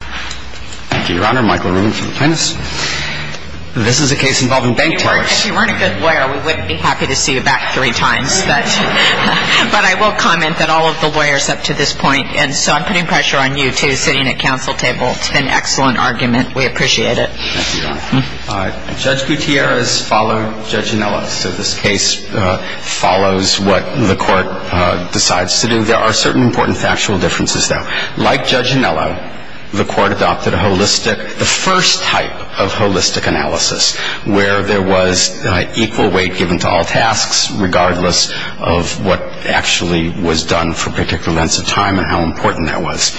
Thank you, Your Honor. Michael Rubin from the Plaintiffs. This is a case involving bank tellers. If you weren't a good lawyer, we wouldn't be happy to see you back three times. But I will comment that all of the lawyers up to this point, and so I'm putting pressure on you, too, sitting at counsel table. It's been an excellent argument. We appreciate it. Thank you, Your Honor. Judge Gutierrez followed Judge Anello, so this case follows what the court decides to do. There are certain important factual differences, though. Like Judge Anello, the court adopted the first type of holistic analysis, where there was equal weight given to all tasks, regardless of what actually was done for particular lengths of time and how important that was.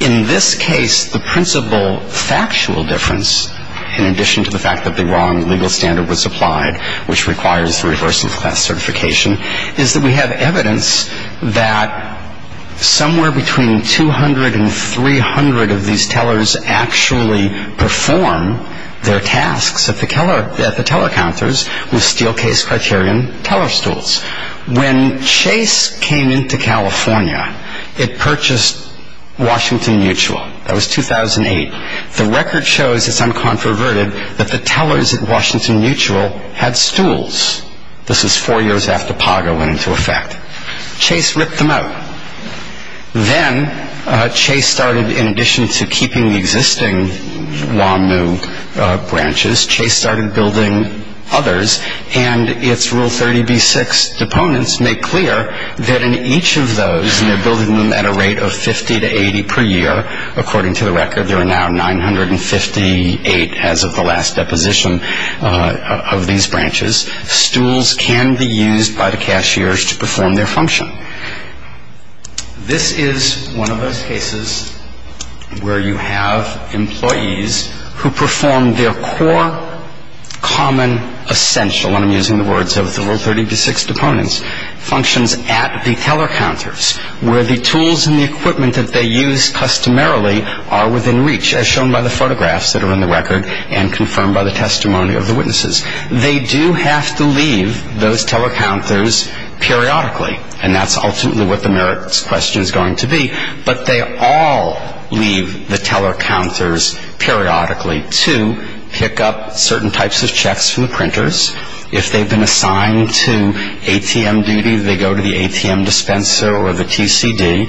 In this case, the principal factual difference, in addition to the fact that the wrong legal standard was applied, which requires reversing class certification, is that we have evidence that somewhere between 200 and 300 of these tellers actually perform their tasks at the teller counters with Steelcase Criterion teller stools. When Chase came into California, it purchased Washington Mutual. That was 2008. The record shows, it's uncontroverted, that the tellers at Washington Mutual had stools. This was four years after PAGA went into effect. Chase ripped them out. Then Chase started, in addition to keeping the existing WAMU branches, Chase started building others, and its Rule 30b-6 deponents make clear that in each of those, and they're building them at a rate of 50 to 80 per year, according to the record, there are now 958 as of the last deposition of these branches, stools can be used by the cashiers to perform their function. This is one of those cases where you have employees who perform their core common essential, and I'm using the words of the Rule 30b-6 deponents, functions at the teller counters, where the tools and the equipment that they use customarily are within reach, as shown by the photographs that are in the record and confirmed by the testimony of the witnesses. They do have to leave those teller counters periodically, and that's ultimately what the merits question is going to be, but they all leave the teller counters periodically to pick up certain types of checks from the printers. If they've been assigned to ATM duty, they go to the ATM dispenser or the TCD.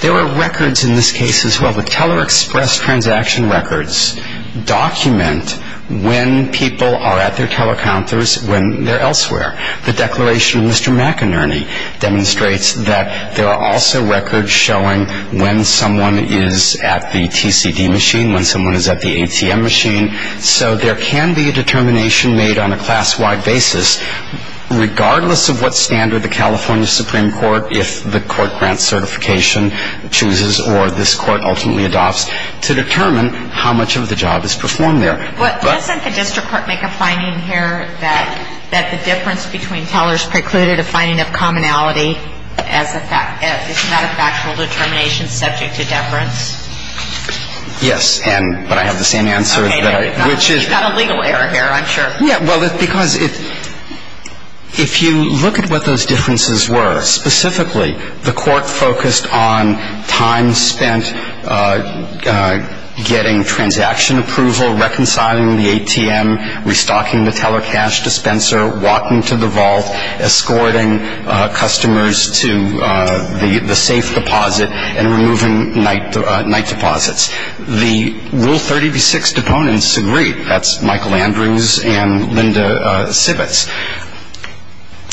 There are records in this case as well. The teller express transaction records document when people are at their teller counters when they're elsewhere. The declaration of Mr. McInerney demonstrates that there are also records showing when someone is at the TCD machine, when someone is at the ATM machine. So there can be a determination made on a class-wide basis, regardless of what standard the California Supreme Court, if the court grants certification, chooses or this Court ultimately adopts, to determine how much of the job is performed there. But doesn't the district court make a finding here that the difference between tellers precluded a finding of commonality as a fact, as not a factual determination subject to deference? Yes, but I have the same answer. You've got a legal error here, I'm sure. Yeah, well, because if you look at what those differences were, specifically the court focused on time spent getting transaction approval, reconciling the ATM, restocking the teller cash dispenser, walking to the vault, escorting customers to the safe deposit, and removing night deposits. The Rule 30b-6 deponents agreed. That's Michael Andrews and Linda Sibbets.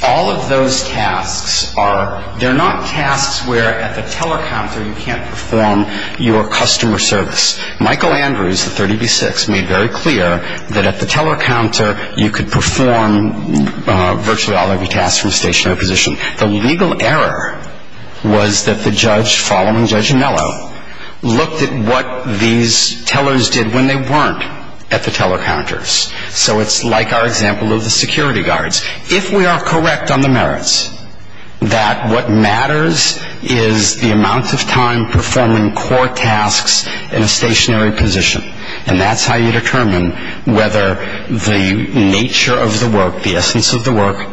All of those tasks are, they're not tasks where at the teller counter you can't perform your customer service. Michael Andrews, the 30b-6, made very clear that at the teller counter you could perform virtually all of your tasks from stationary position. The legal error was that the judge following Judge Anello looked at what these tellers did when they weren't at the teller counters. So it's like our example of the security guards. If we are correct on the merits that what matters is the amount of time performing core tasks in a stationary position, and that's how you determine whether the nature of the work, the essence of the work,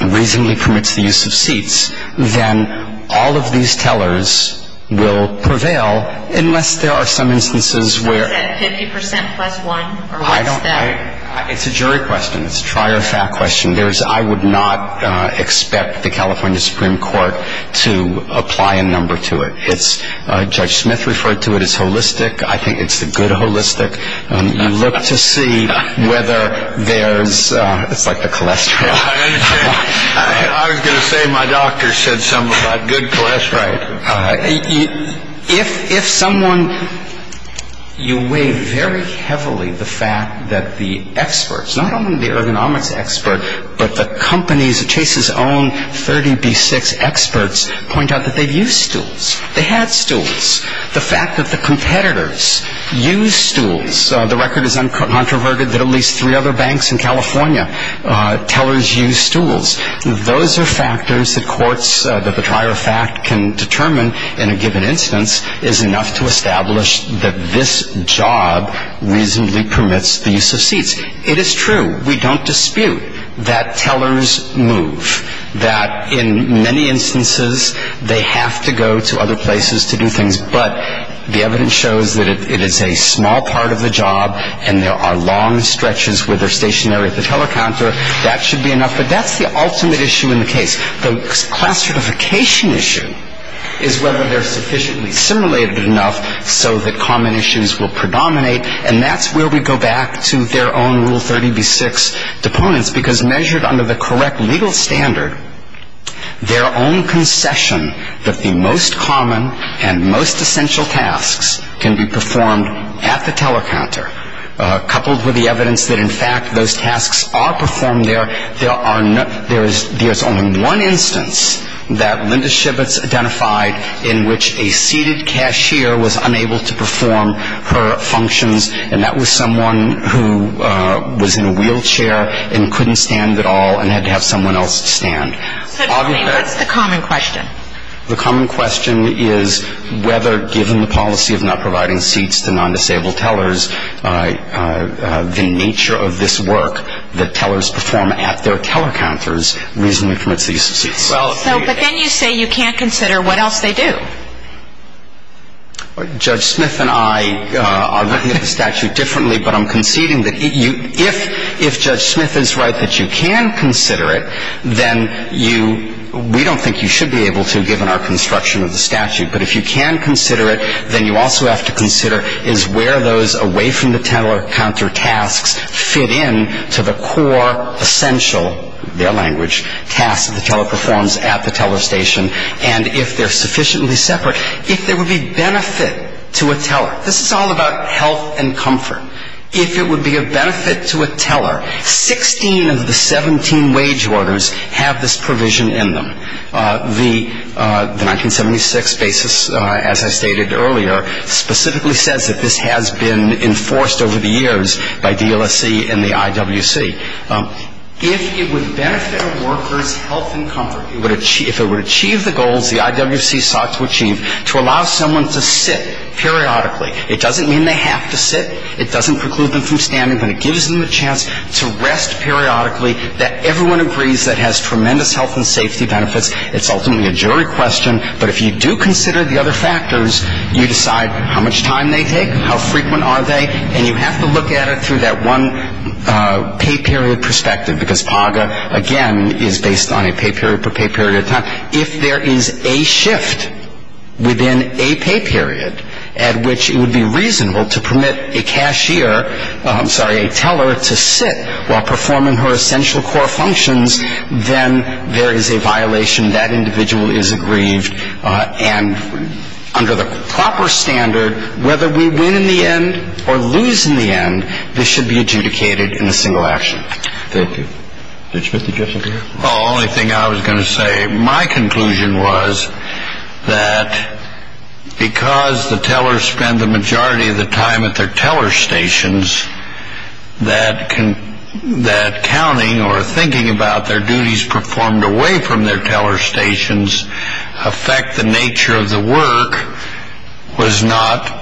reasonably permits the use of seats, then all of these tellers will prevail unless there are some instances where- Is that 50% plus one, or what's that? It's a jury question. It's a trier fact question. I would not expect the California Supreme Court to apply a number to it. Judge Smith referred to it as holistic. I think it's the good holistic. You look to see whether there's- it's like the cholesterol. I was going to say my doctor said something about good cholesterol. If someone- you weigh very heavily the fact that the experts, not only the ergonomics expert, but the companies- Chase's own 30B6 experts point out that they've used stools. They had stools. The fact that the competitors use stools- the record is uncontroverted that at least three other banks in California, tellers use stools. Those are factors that courts- that the trier fact can determine in a given instance is enough to establish that this job reasonably permits the use of seats. It is true. We don't dispute that tellers move. That in many instances, they have to go to other places to do things, but the evidence shows that if it is a small part of the job and there are long stretches where they're stationary at the teller counter, that should be enough. But that's the ultimate issue in the case. The class certification issue is whether they're sufficiently simulated enough so that common issues will predominate. And that's where we go back to their own Rule 30B6 deponents, because measured under the correct legal standard, their own concession that the most common and most essential tasks can be performed at the teller counter, coupled with the evidence that in fact those tasks are performed there, there's only one instance that Linda Shibbets identified in which a seated cashier was unable to perform her functions, and that was someone who was in a wheelchair and couldn't stand at all and had to have someone else stand. So tell me, what's the common question? The common question is whether, given the policy of not providing seats to non-disabled tellers, the nature of this work that tellers perform at their teller counters reasonably permits the use of seats. But then you say you can't consider what else they do. Judge Smith and I are looking at the statute differently, but I'm conceding that if Judge Smith is right that you can consider it, then we don't think you should be able to, given our construction of the statute. But if you can consider it, then you also have to consider is where those away-from-the-teller-counter tasks fit in to the core essential, their language, tasks that the teller performs at the teller station, and if they're sufficiently separate, if there would be benefit to a teller. This is all about health and comfort. If it would be a benefit to a teller, 16 of the 17 wage orders have this provision in them. The 1976 basis, as I stated earlier, specifically says that this has been enforced over the years by DLSC and the IWC. If it would benefit a worker's health and comfort, if it would achieve the goals the IWC sought to achieve to allow someone to sit periodically, it doesn't mean they have to sit, it doesn't preclude them from standing, but it gives them the chance to rest periodically, that everyone agrees that has tremendous health and safety benefits. It's ultimately a jury question, but if you do consider the other factors, you decide how much time they take, how frequent are they, and you have to look at it through that one pay period perspective, because PAGA, again, is based on a pay period per pay period of time. If there is a shift within a pay period at which it would be reasonable to permit a cashier, I'm sorry, a teller to sit while performing her essential core functions, then there is a violation, that individual is aggrieved, and under the proper standard, whether we win in the end or lose in the end, this should be adjudicated in a single action. Thank you. Judge Smith, did you have something to add? The only thing I was going to say, my conclusion was that because the tellers spend the majority of the time at their teller stations, that counting or thinking about their duties performed away from their teller stations affect the nature of the work was not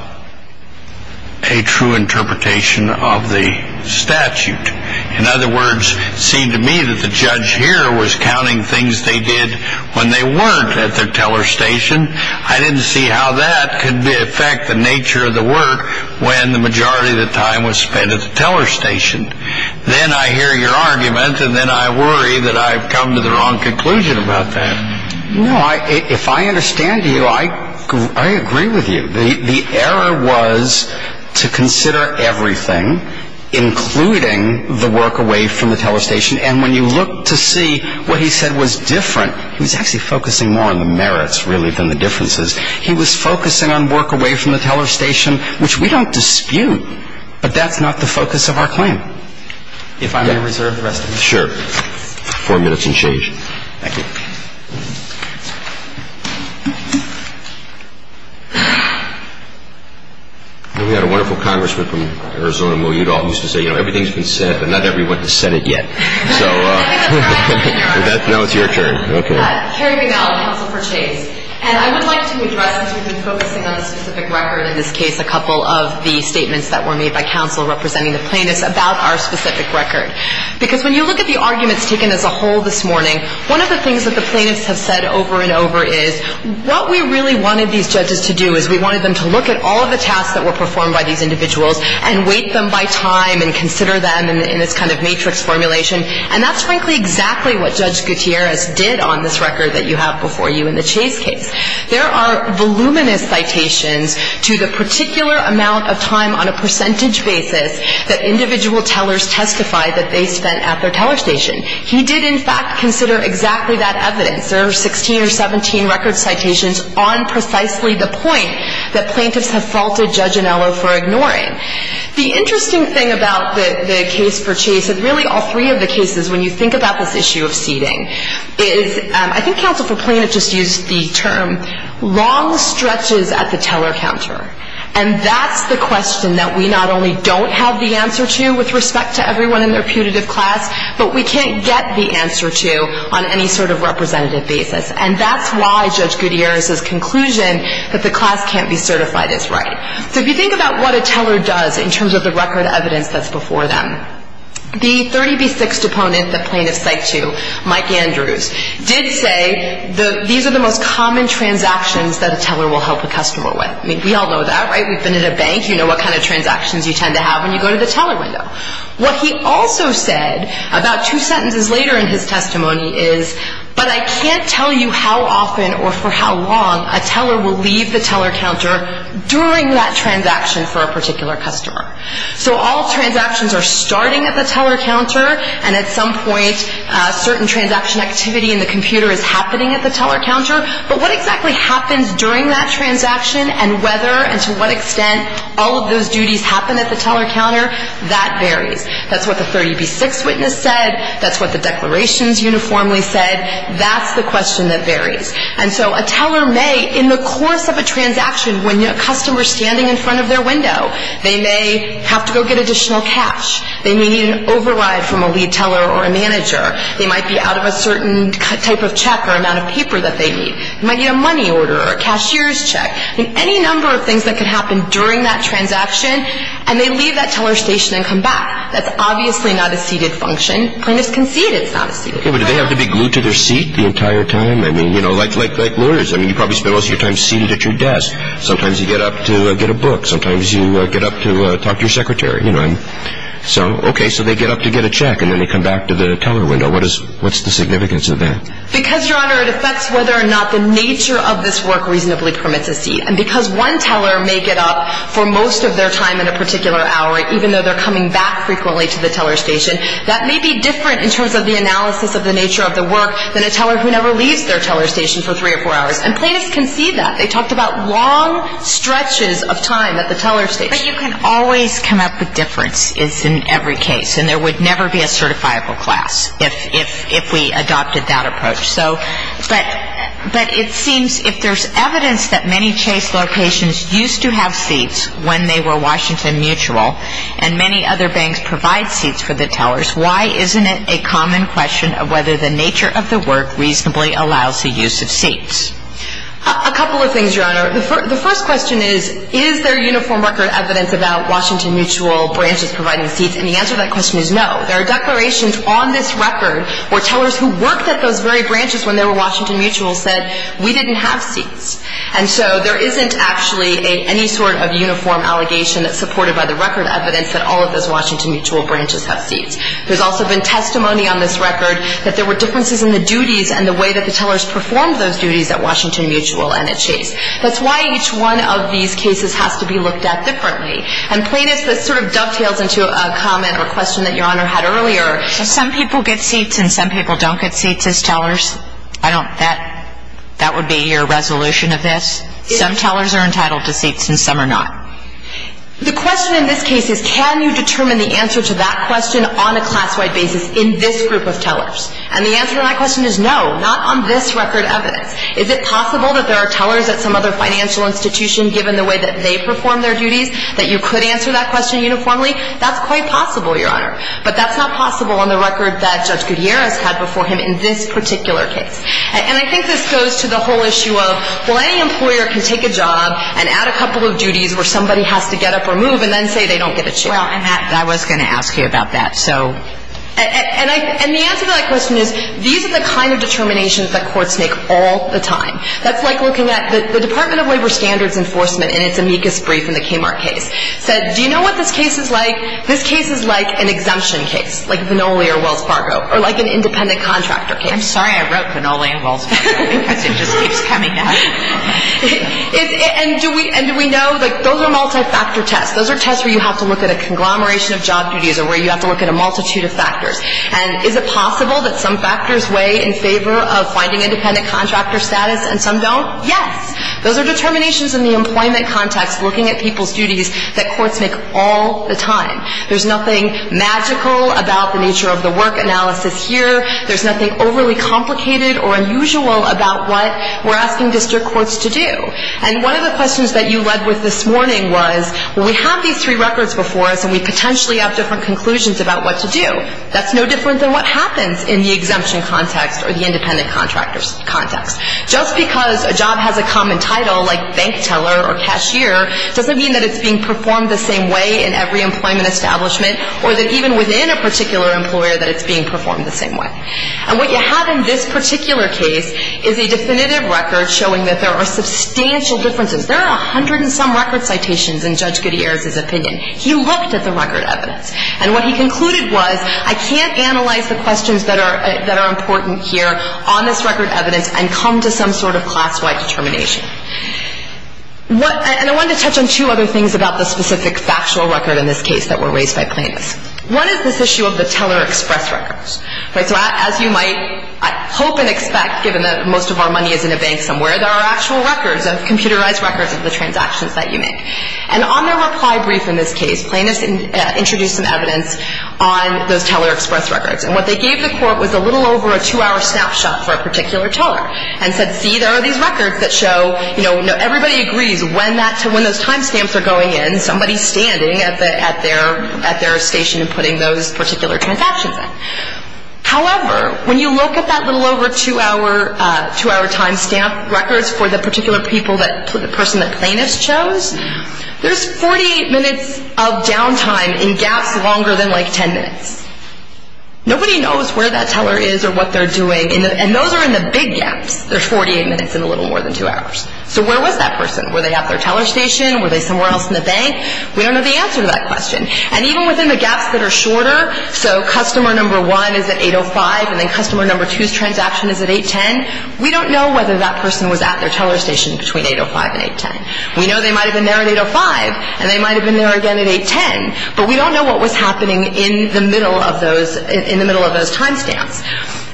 a true interpretation of the statute. In other words, it seemed to me that the judge here was counting things they did when they weren't at their teller station. I didn't see how that could affect the nature of the work when the majority of the time was spent at the teller station. Then I hear your argument, and then I worry that I've come to the wrong conclusion about that. No, if I understand you, I agree with you. The error was to consider everything, including the work away from the teller station. And when you look to see what he said was different, he was actually focusing more on the merits, really, than the differences. He was focusing on work away from the teller station, which we don't dispute, but that's not the focus of our claim. If I may reserve the rest of the time. Sure. Four minutes and change. Thank you. We had a wonderful congressman from Arizona, Moe Udall, who used to say, you know, everything's been said, but not that we went to Senate yet. So now it's your turn. Carrie Vanell, counsel for Chase. And I would like to address, as we've been focusing on the specific record in this case, a couple of the statements that were made by counsel representing the plaintiffs about our specific record. Because when you look at the arguments taken as a whole this morning, one of the things that the plaintiffs have said over and over is what we really wanted these judges to do is we wanted them to look at all of the tasks that were performed by these individuals and weight them by time and consider them in this kind of matrix formulation. And that's frankly exactly what Judge Gutierrez did on this record that you have before you in the Chase case. There are voluminous citations to the particular amount of time on a percentage basis that individual tellers testify that they spent at their teller station. He did, in fact, consider exactly that evidence. There are 16 or 17 record citations on precisely the point that plaintiffs have faulted Judge Anello for ignoring. The interesting thing about the case for Chase, and really all three of the cases, when you think about this issue of seating, is I think counsel for Plaintiff just used the term long stretches at the teller counter. And that's the question that we not only don't have the answer to with respect to everyone in their putative class, but we can't get the answer to on any sort of representative basis. And that's why Judge Gutierrez's conclusion that the class can't be certified is right. So if you think about what a teller does in terms of the record evidence that's before them, the 30B6 deponent that plaintiffs cite to, Mike Andrews, did say these are the most common transactions that a teller will help a customer with. I mean, we all know that, right? We've been in a bank. You know what kind of transactions you tend to have when you go to the teller window. What he also said about two sentences later in his testimony is, but I can't tell you how often or for how long a teller will leave the teller counter during that transaction for a particular customer. So all transactions are starting at the teller counter, and at some point a certain transaction activity in the computer is happening at the teller counter. But what exactly happens during that transaction and whether and to what extent all of those duties happen at the teller counter, that varies. That's what the 30B6 witness said. That's what the declarations uniformly said. That's the question that varies. And so a teller may, in the course of a transaction, when a customer is standing in front of their window, they may have to go get additional cash. They may need an override from a lead teller or a manager. They might be out of a certain type of check or amount of paper that they need. They might need a money order or a cashier's check. I mean, any number of things that can happen during that transaction, and they leave that teller station and come back. That's obviously not a seated function. Plaintiffs can seat. It's not a seated function. But do they have to be glued to their seat the entire time? I mean, you know, like lawyers. I mean, you probably spend most of your time seated at your desk. Sometimes you get up to get a book. Sometimes you get up to talk to your secretary. So, okay, so they get up to get a check, and then they come back to the teller window. What's the significance of that? Because, Your Honor, it affects whether or not the nature of this work reasonably permits a seat. And because one teller may get up for most of their time at a particular hour, even though they're coming back frequently to the teller station, that may be different in terms of the analysis of the nature of the work than a teller who never leaves their teller station for three or four hours. And plaintiffs can see that. They talked about long stretches of time at the teller station. But you can always come up with differences in every case, and there would never be a certifiable class if we adopted that approach. But it seems if there's evidence that many Chase locations used to have seats when they were Washington Mutual, and many other banks provide seats for the tellers, why isn't it a common question of whether the nature of the work reasonably allows the use of seats? A couple of things, Your Honor. The first question is, is there uniform record evidence about Washington Mutual branches providing seats? And the answer to that question is no. There are declarations on this record where tellers who worked at those very branches when they were Washington Mutual said, we didn't have seats. And so there isn't actually any sort of uniform allegation supported by the record evidence that all of those Washington Mutual branches have seats. There's also been testimony on this record that there were differences in the duties and the way that the tellers performed those duties at Washington Mutual and at Chase. That's why each one of these cases has to be looked at differently. And, Plaintiff, this sort of dovetails into a comment or question that Your Honor had earlier. Some people get seats and some people don't get seats as tellers. I don't – that would be your resolution of this? Some tellers are entitled to seats and some are not. The question in this case is, can you determine the answer to that question on a class-wide basis in this group of tellers? And the answer to that question is no, not on this record evidence. Is it possible that there are tellers at some other financial institution, given the way that they perform their duties, that you could answer that question uniformly? That's quite possible, Your Honor. But that's not possible on the record that Judge Gutierrez had before him in this particular case. And I think this goes to the whole issue of, well, any employer can take a job and add a couple of duties where somebody has to get up or move and then say they don't get a chair. Well, I'm happy. I was going to ask you about that. So – And I – and the answer to that question is, these are the kind of determinations that courts make all the time. That's like looking at the Department of Labor Standards Enforcement in its amicus brief in the Kmart case. It said, do you know what this case is like? This case is like an exemption case, like Vinole or Wells Fargo, or like an independent contractor case. I'm sorry I wrote Vinole and Wells Fargo because it just keeps coming up. And do we – and do we know – like, those are multi-factor tests. Those are tests where you have to look at a conglomeration of job duties or where you have to look at a multitude of factors. And is it possible that some factors weigh in favor of finding independent contractor status and some don't? Yes. Those are determinations in the employment context looking at people's duties that courts make all the time. There's nothing magical about the nature of the work analysis here. There's nothing overly complicated or unusual about what we're asking district courts to do. And one of the questions that you led with this morning was, well, we have these three records before us and we potentially have different conclusions about what to do. That's no different than what happens in the exemption context or the independent contractor context. Just because a job has a common title, like bank teller or cashier, doesn't mean that it's being performed the same way in every employment establishment or that even within a particular employer that it's being performed the same way. And what you have in this particular case is a definitive record showing that there are substantial differences. There are a hundred and some record citations in Judge Gutierrez's opinion. He looked at the record evidence. And what he concluded was, I can't analyze the questions that are important here on this record evidence and come to some sort of class-wide determination. And I wanted to touch on two other things about the specific factual record in this case that were raised by Plaintiffs. One is this issue of the teller express records. So as you might hope and expect, given that most of our money is in a bank somewhere, there are actual records, computerized records of the transactions that you make. And on their reply brief in this case, Plaintiffs introduced some evidence on those teller express records. And what they gave the court was a little over a two-hour snapshot for a particular teller and said, see, there are these records that show, you know, everybody agrees when those time stamps are going in, somebody's standing at their station and putting those particular transactions in. However, when you look at that little over two-hour time stamp records for the particular person that Plaintiffs chose, there's 48 minutes of downtime in gaps longer than, like, 10 minutes. Nobody knows where that teller is or what they're doing. And those are in the big gaps. There's 48 minutes in a little more than two hours. So where was that person? Were they at their teller station? Were they somewhere else in the bank? We don't know the answer to that question. And even within the gaps that are shorter, so customer number one is at 8.05 and then customer number two's transaction is at 8.10, we don't know whether that person was at their teller station between 8.05 and 8.10. We know they might have been there at 8.05 and they might have been there again at 8.10, but we don't know what was happening in the middle of those time stamps.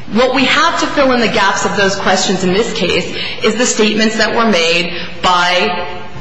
What we have to fill in the gaps of those questions in this case is the statements that were made by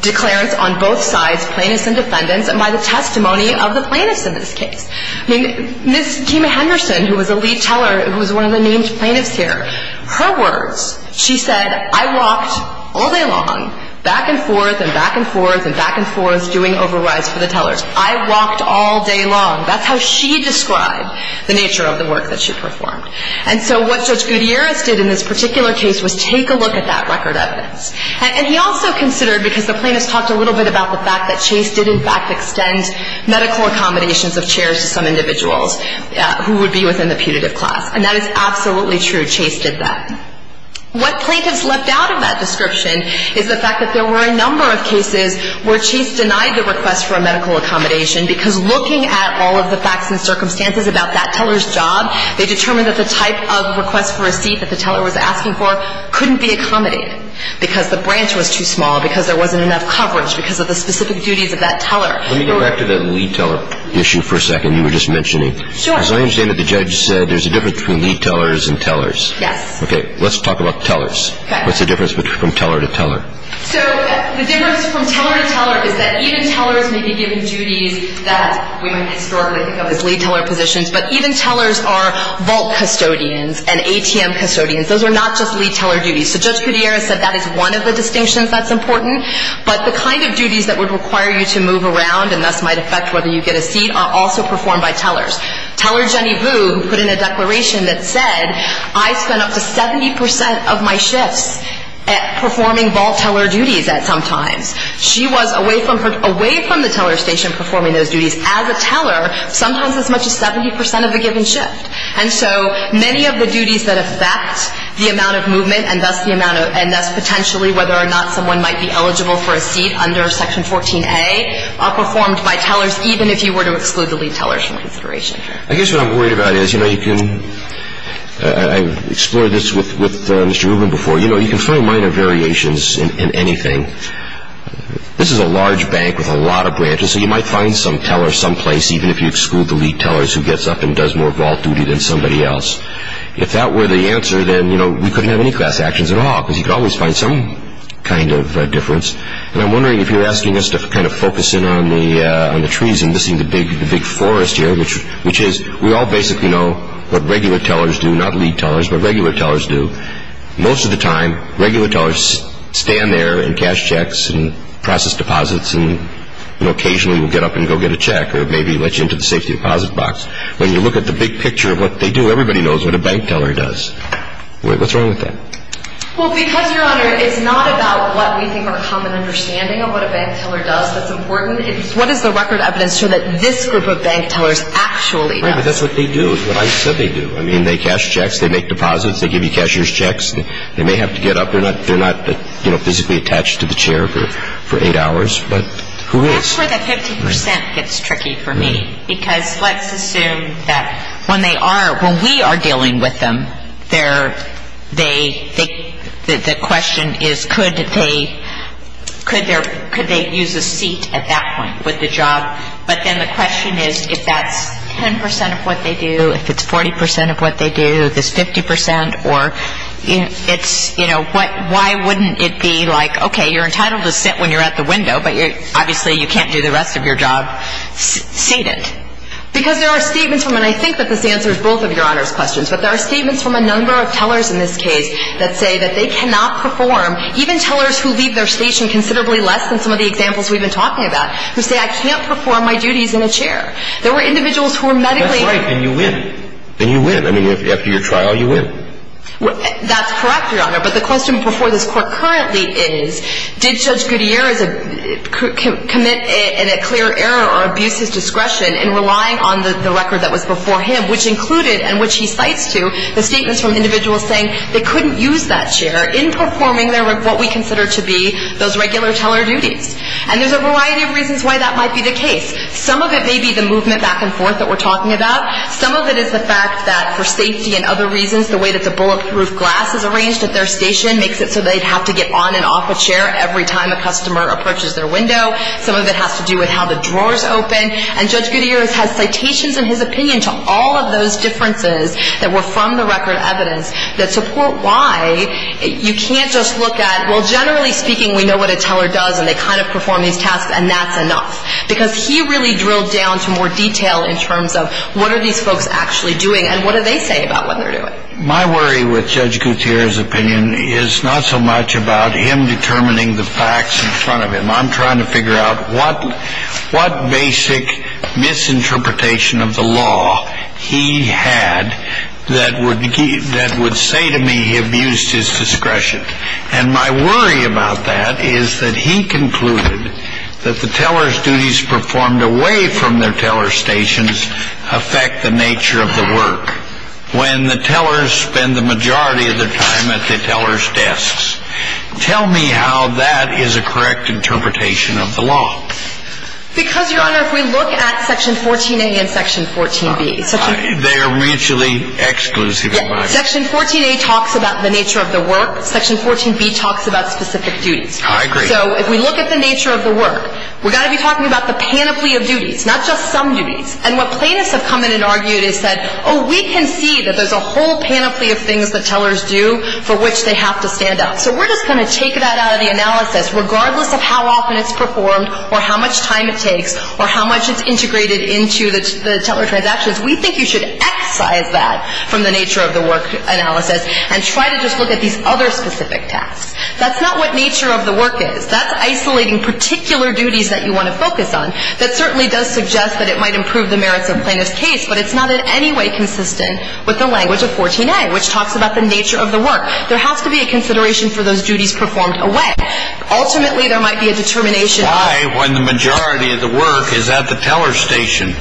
declarants on both sides, plaintiffs and defendants, and by the testimony of the plaintiffs in this case. I mean, Ms. Kima Henderson, who was a lead teller, who was one of the named plaintiffs here, her words, she said, I walked all day long back and forth and back and forth and back and forth doing overrides for the tellers. I walked all day long. That's how she described the nature of the work that she performed. And so what Judge Gutierrez did in this particular case was take a look at that record evidence. And he also considered, because the plaintiffs talked a little bit about the fact that Chase did, in fact, extend medical accommodations of chairs to some individuals who would be within the putative class, and that is absolutely true. Chase did that. What plaintiffs left out of that description is the fact that there were a number of cases where Chase denied the request for a medical accommodation because looking at all of the facts and circumstances about that teller's job, they determined that the type of request for receipt that the teller was asking for couldn't be accommodated because the branch was too small, because there wasn't enough coverage, because of the specific duties of that teller. Let me go back to that lead teller issue for a second you were just mentioning. Sure. As I understand it, the judge said there's a difference between lead tellers and tellers. Yes. Okay. Let's talk about tellers. Okay. What's the difference from teller to teller? So the difference from teller to teller is that even tellers may be given duties that we might historically think of as lead teller positions, but even tellers are vault custodians and ATM custodians. Those are not just lead teller duties. So Judge Gutierrez said that is one of the distinctions that's important, but the kind of duties that would require you to move around and thus might affect whether you get a seat are also performed by tellers. Teller Jenny Boo, who put in a declaration that said, I spend up to 70% of my shifts performing vault teller duties at some times. She was away from the teller station performing those duties as a teller, sometimes as much as 70% of the given shift. And so many of the duties that affect the amount of movement under Section 14A are performed by tellers, even if you were to exclude the lead teller from consideration. I guess what I'm worried about is, you know, you can – I've explored this with Mr. Rubin before. You know, you can find minor variations in anything. This is a large bank with a lot of branches, so you might find some teller someplace, even if you exclude the lead tellers who gets up and does more vault duty than somebody else. If that were the answer, then, you know, we couldn't have any class actions at all, because you could always find some kind of difference. And I'm wondering if you're asking us to kind of focus in on the trees and missing the big forest here, which is we all basically know what regular tellers do, not lead tellers, but regular tellers do. Most of the time, regular tellers stand there and cash checks and process deposits and occasionally will get up and go get a check or maybe let you into the safety deposit box. When you look at the big picture of what they do, everybody knows what a bank teller does. What's wrong with that? Well, because, Your Honor, it's not about what we think our common understanding of what a bank teller does that's important. It's what does the record evidence show that this group of bank tellers actually does. Right, but that's what they do, is what I said they do. I mean, they cash checks. They make deposits. They give you cashier's checks. They may have to get up. They're not physically attached to the chair for eight hours. But who is? Well, that's where the 50 percent gets tricky for me, because let's assume that when they are, when we are dealing with them, the question is could they use a seat at that point with the job. But then the question is if that's 10 percent of what they do, if it's 40 percent of what they do, if it's 50 percent or it's, you know, why wouldn't it be like, okay, you're entitled to sit when you're at the window, but obviously you can't do the rest of your job seated. Because there are statements from, and I think that this answers both of Your Honor's questions, but there are statements from a number of tellers in this case that say that they cannot perform, even tellers who leave their station considerably less than some of the examples we've been talking about, who say I can't perform my duties in a chair. There were individuals who were medically. That's right, and you win. And you win. I mean, after your trial, you win. That's correct, Your Honor, but the question before this Court currently is did Judge Gutierrez commit a clear error or abuse his discretion in relying on the record that was before him, which included and which he cites to the statements from individuals saying they couldn't use that chair in performing what we consider to be those regular teller duties. And there's a variety of reasons why that might be the case. Some of it may be the movement back and forth that we're talking about. Some of it is the fact that for safety and other reasons, the way that the bulletproof glass is arranged at their station makes it so they'd have to get on and off a chair every time a customer approaches their window. Some of it has to do with how the drawers open. And Judge Gutierrez has citations in his opinion to all of those differences that were from the record evidence that support why you can't just look at, well, generally speaking, we know what a teller does and they kind of perform these tasks and that's enough. Because he really drilled down to more detail in terms of what are these folks actually doing and what do they say about what they're doing. My worry with Judge Gutierrez's opinion is not so much about him determining the facts in front of him. I'm trying to figure out what basic misinterpretation of the law he had that would say to me he abused his discretion. And my worry about that is that he concluded that the teller's duties performed away from their teller stations affect the nature of the work when the tellers spend the majority of their time at the teller's desks. Tell me how that is a correct interpretation of the law. Because, Your Honor, if we look at Section 14A and Section 14B. They are mutually exclusive. Section 14A talks about the nature of the work. Section 14B talks about specific duties. I agree. So if we look at the nature of the work, we've got to be talking about the panoply of duties, not just some duties. And what plaintiffs have come in and argued is that, oh, we can see that there's a whole panoply of things that tellers do for which they have to stand out. So we're just going to take that out of the analysis, regardless of how often it's performed or how much time it takes or how much it's integrated into the teller transactions. We think you should excise that from the nature of the work analysis and try to just look at these other specific tasks. That's not what nature of the work is. That's isolating particular duties that you want to focus on. That certainly does suggest that it might improve the merits of a plaintiff's case, but it's not in any way consistent with the language of 14A, which talks about the nature of the work. There has to be a consideration for those duties performed away. Ultimately, there might be a determination. Why, when the majority of the work is at the teller station,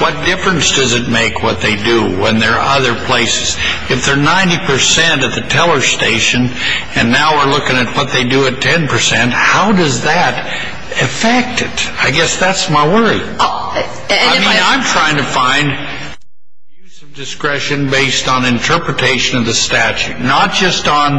what difference does it make what they do when they're other places? If they're 90 percent at the teller station and now we're looking at what they do at 10 percent, how does that affect it? I guess that's my worry. I mean, I'm trying to find use of discretion based on interpretation of the statute, not just on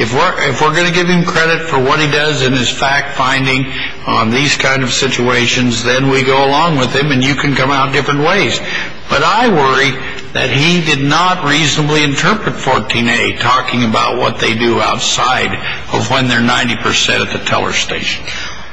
if we're going to give him credit for what he does in his fact finding on these kind of situations, then we go along with him and you can come out different ways. But I worry that he did not reasonably interpret 14A talking about what they do outside of when they're 90 percent at the teller station.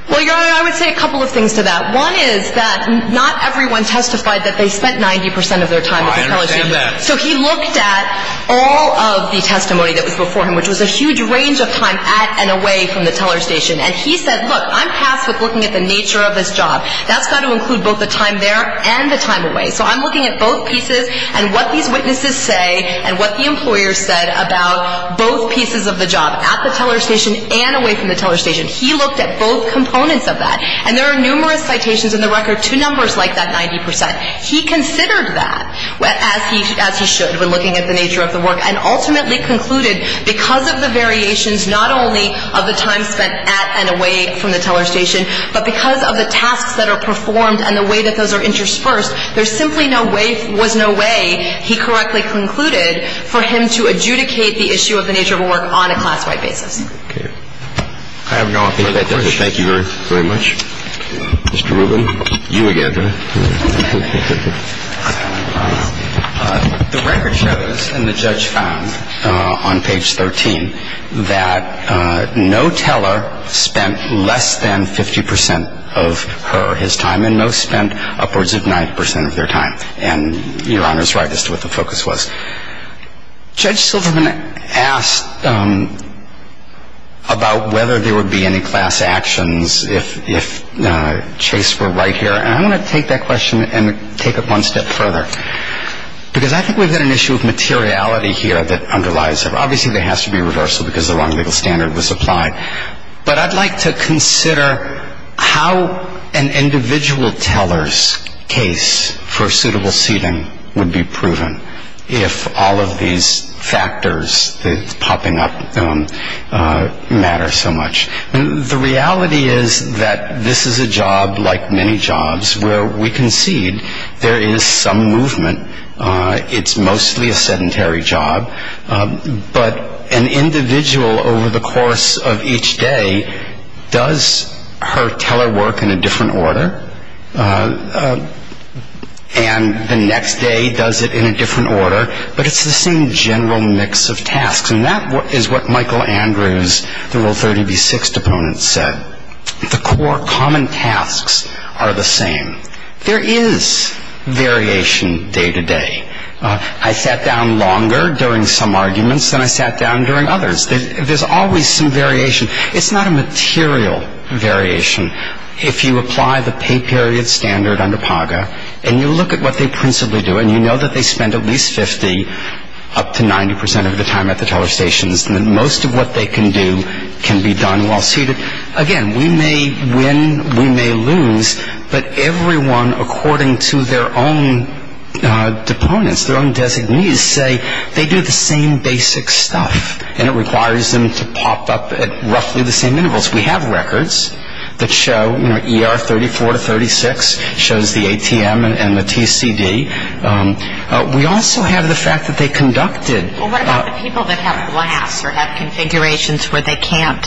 Well, Your Honor, I would say a couple of things to that. One is that not everyone testified that they spent 90 percent of their time at the teller station. I understand that. So he looked at all of the testimony that was before him, which was a huge range of time at and away from the teller station, and he said, look, I'm passed with looking at the nature of this job. That's got to include both the time there and the time away. So I'm looking at both pieces and what these witnesses say and what the employer said about both pieces of the job, at the teller station and away from the teller station. He looked at both components of that. And there are numerous citations in the record to numbers like that 90 percent. He considered that, as he should, when looking at the nature of the work, and ultimately concluded because of the variations not only of the time spent at and away from the teller station, but because of the tasks that are performed and the way that those are interspersed, there simply was no way he correctly concluded for him to adjudicate the issue of the nature of the work on a class-wide basis. Okay. I have no other questions. Thank you very much. Mr. Rubin, you again. The record shows, and the judge found on page 13, that no teller spent less than 50 percent of her or his time and no spent upwards of 90 percent of their time. And Your Honor is right as to what the focus was. Judge Silverman asked about whether there would be any class actions if Chase were right here. And I want to take that question and take it one step further. Because I think we've got an issue of materiality here that underlies it. Obviously, there has to be reversal because the wrong legal standard was applied. But I'd like to consider how an individual teller's case for suitable seating would be proven if all of these factors that's popping up matter so much. The reality is that this is a job, like many jobs, where we concede there is some movement. It's mostly a sedentary job. But an individual over the course of each day does her teller work in a different order. And the next day does it in a different order. But it's the same general mix of tasks. And that is what Michael Andrews, the Rule 30b-6 deponent, said. The core common tasks are the same. There is variation day to day. I sat down longer during some arguments than I sat down during others. There's always some variation. It's not a material variation. If you apply the pay period standard under PAGA and you look at what they principally do, and you know that they spend at least 50% up to 90% of the time at the teller stations, then most of what they can do can be done while seated. Again, we may win. We may lose. But everyone, according to their own deponents, their own designees, say they do the same basic stuff. And it requires them to pop up at roughly the same intervals. We have records that show ER 34 to 36, shows the ATM and the TCD. We also have the fact that they conducted. Well, what about the people that have glass or have configurations where they can't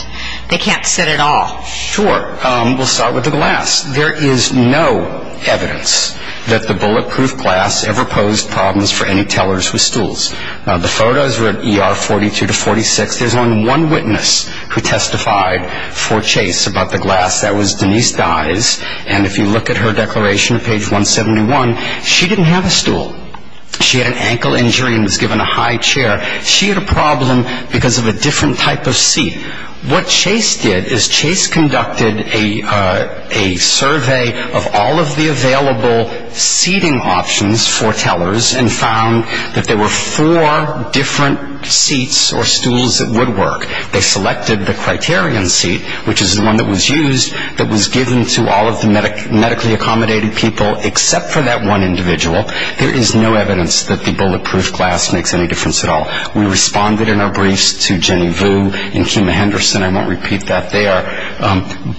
sit at all? Sure. We'll start with the glass. There is no evidence that the bulletproof glass ever posed problems for any tellers with stools. The photos were at ER 42 to 46. There's only one witness who testified for Chase about the glass. That was Denise Dyes. And if you look at her declaration at page 171, she didn't have a stool. She had an ankle injury and was given a high chair. She had a problem because of a different type of seat. What Chase did is Chase conducted a survey of all of the available seating options for tellers and found that there were four different seats or stools that would work. They selected the criterion seat, which is the one that was used, that was given to all of the medically accommodating people except for that one individual. There is no evidence that the bulletproof glass makes any difference at all. We responded in our briefs to Jenny Vu and Kim Henderson. I won't repeat that there.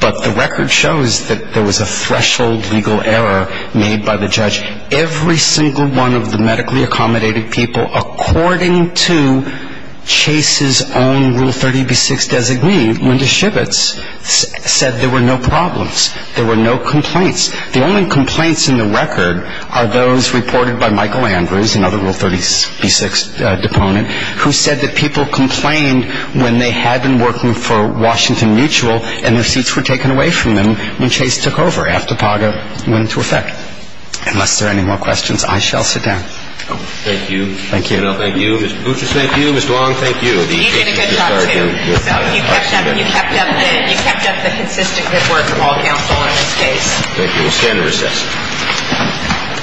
But the record shows that there was a threshold legal error made by the judge. Every single one of the medically accommodating people, according to Chase's own Rule 30b-6 designee, Linda Shibbets, said there were no problems. There were no complaints. The only complaints in the record are those reported by Michael Andrews, another Rule 30b-6 deponent, who said that people complained when they had been working for Washington Mutual and their seats were taken away from them when Chase took over after PAGA went into effect. Unless there are any more questions, I shall sit down. Thank you. Thank you. Thank you. Ms. Boucher, thank you. Ms. Duong, thank you. You did a good job, too. You kept up the consistent good work of all counsel in this case. Thank you. We stand recessed.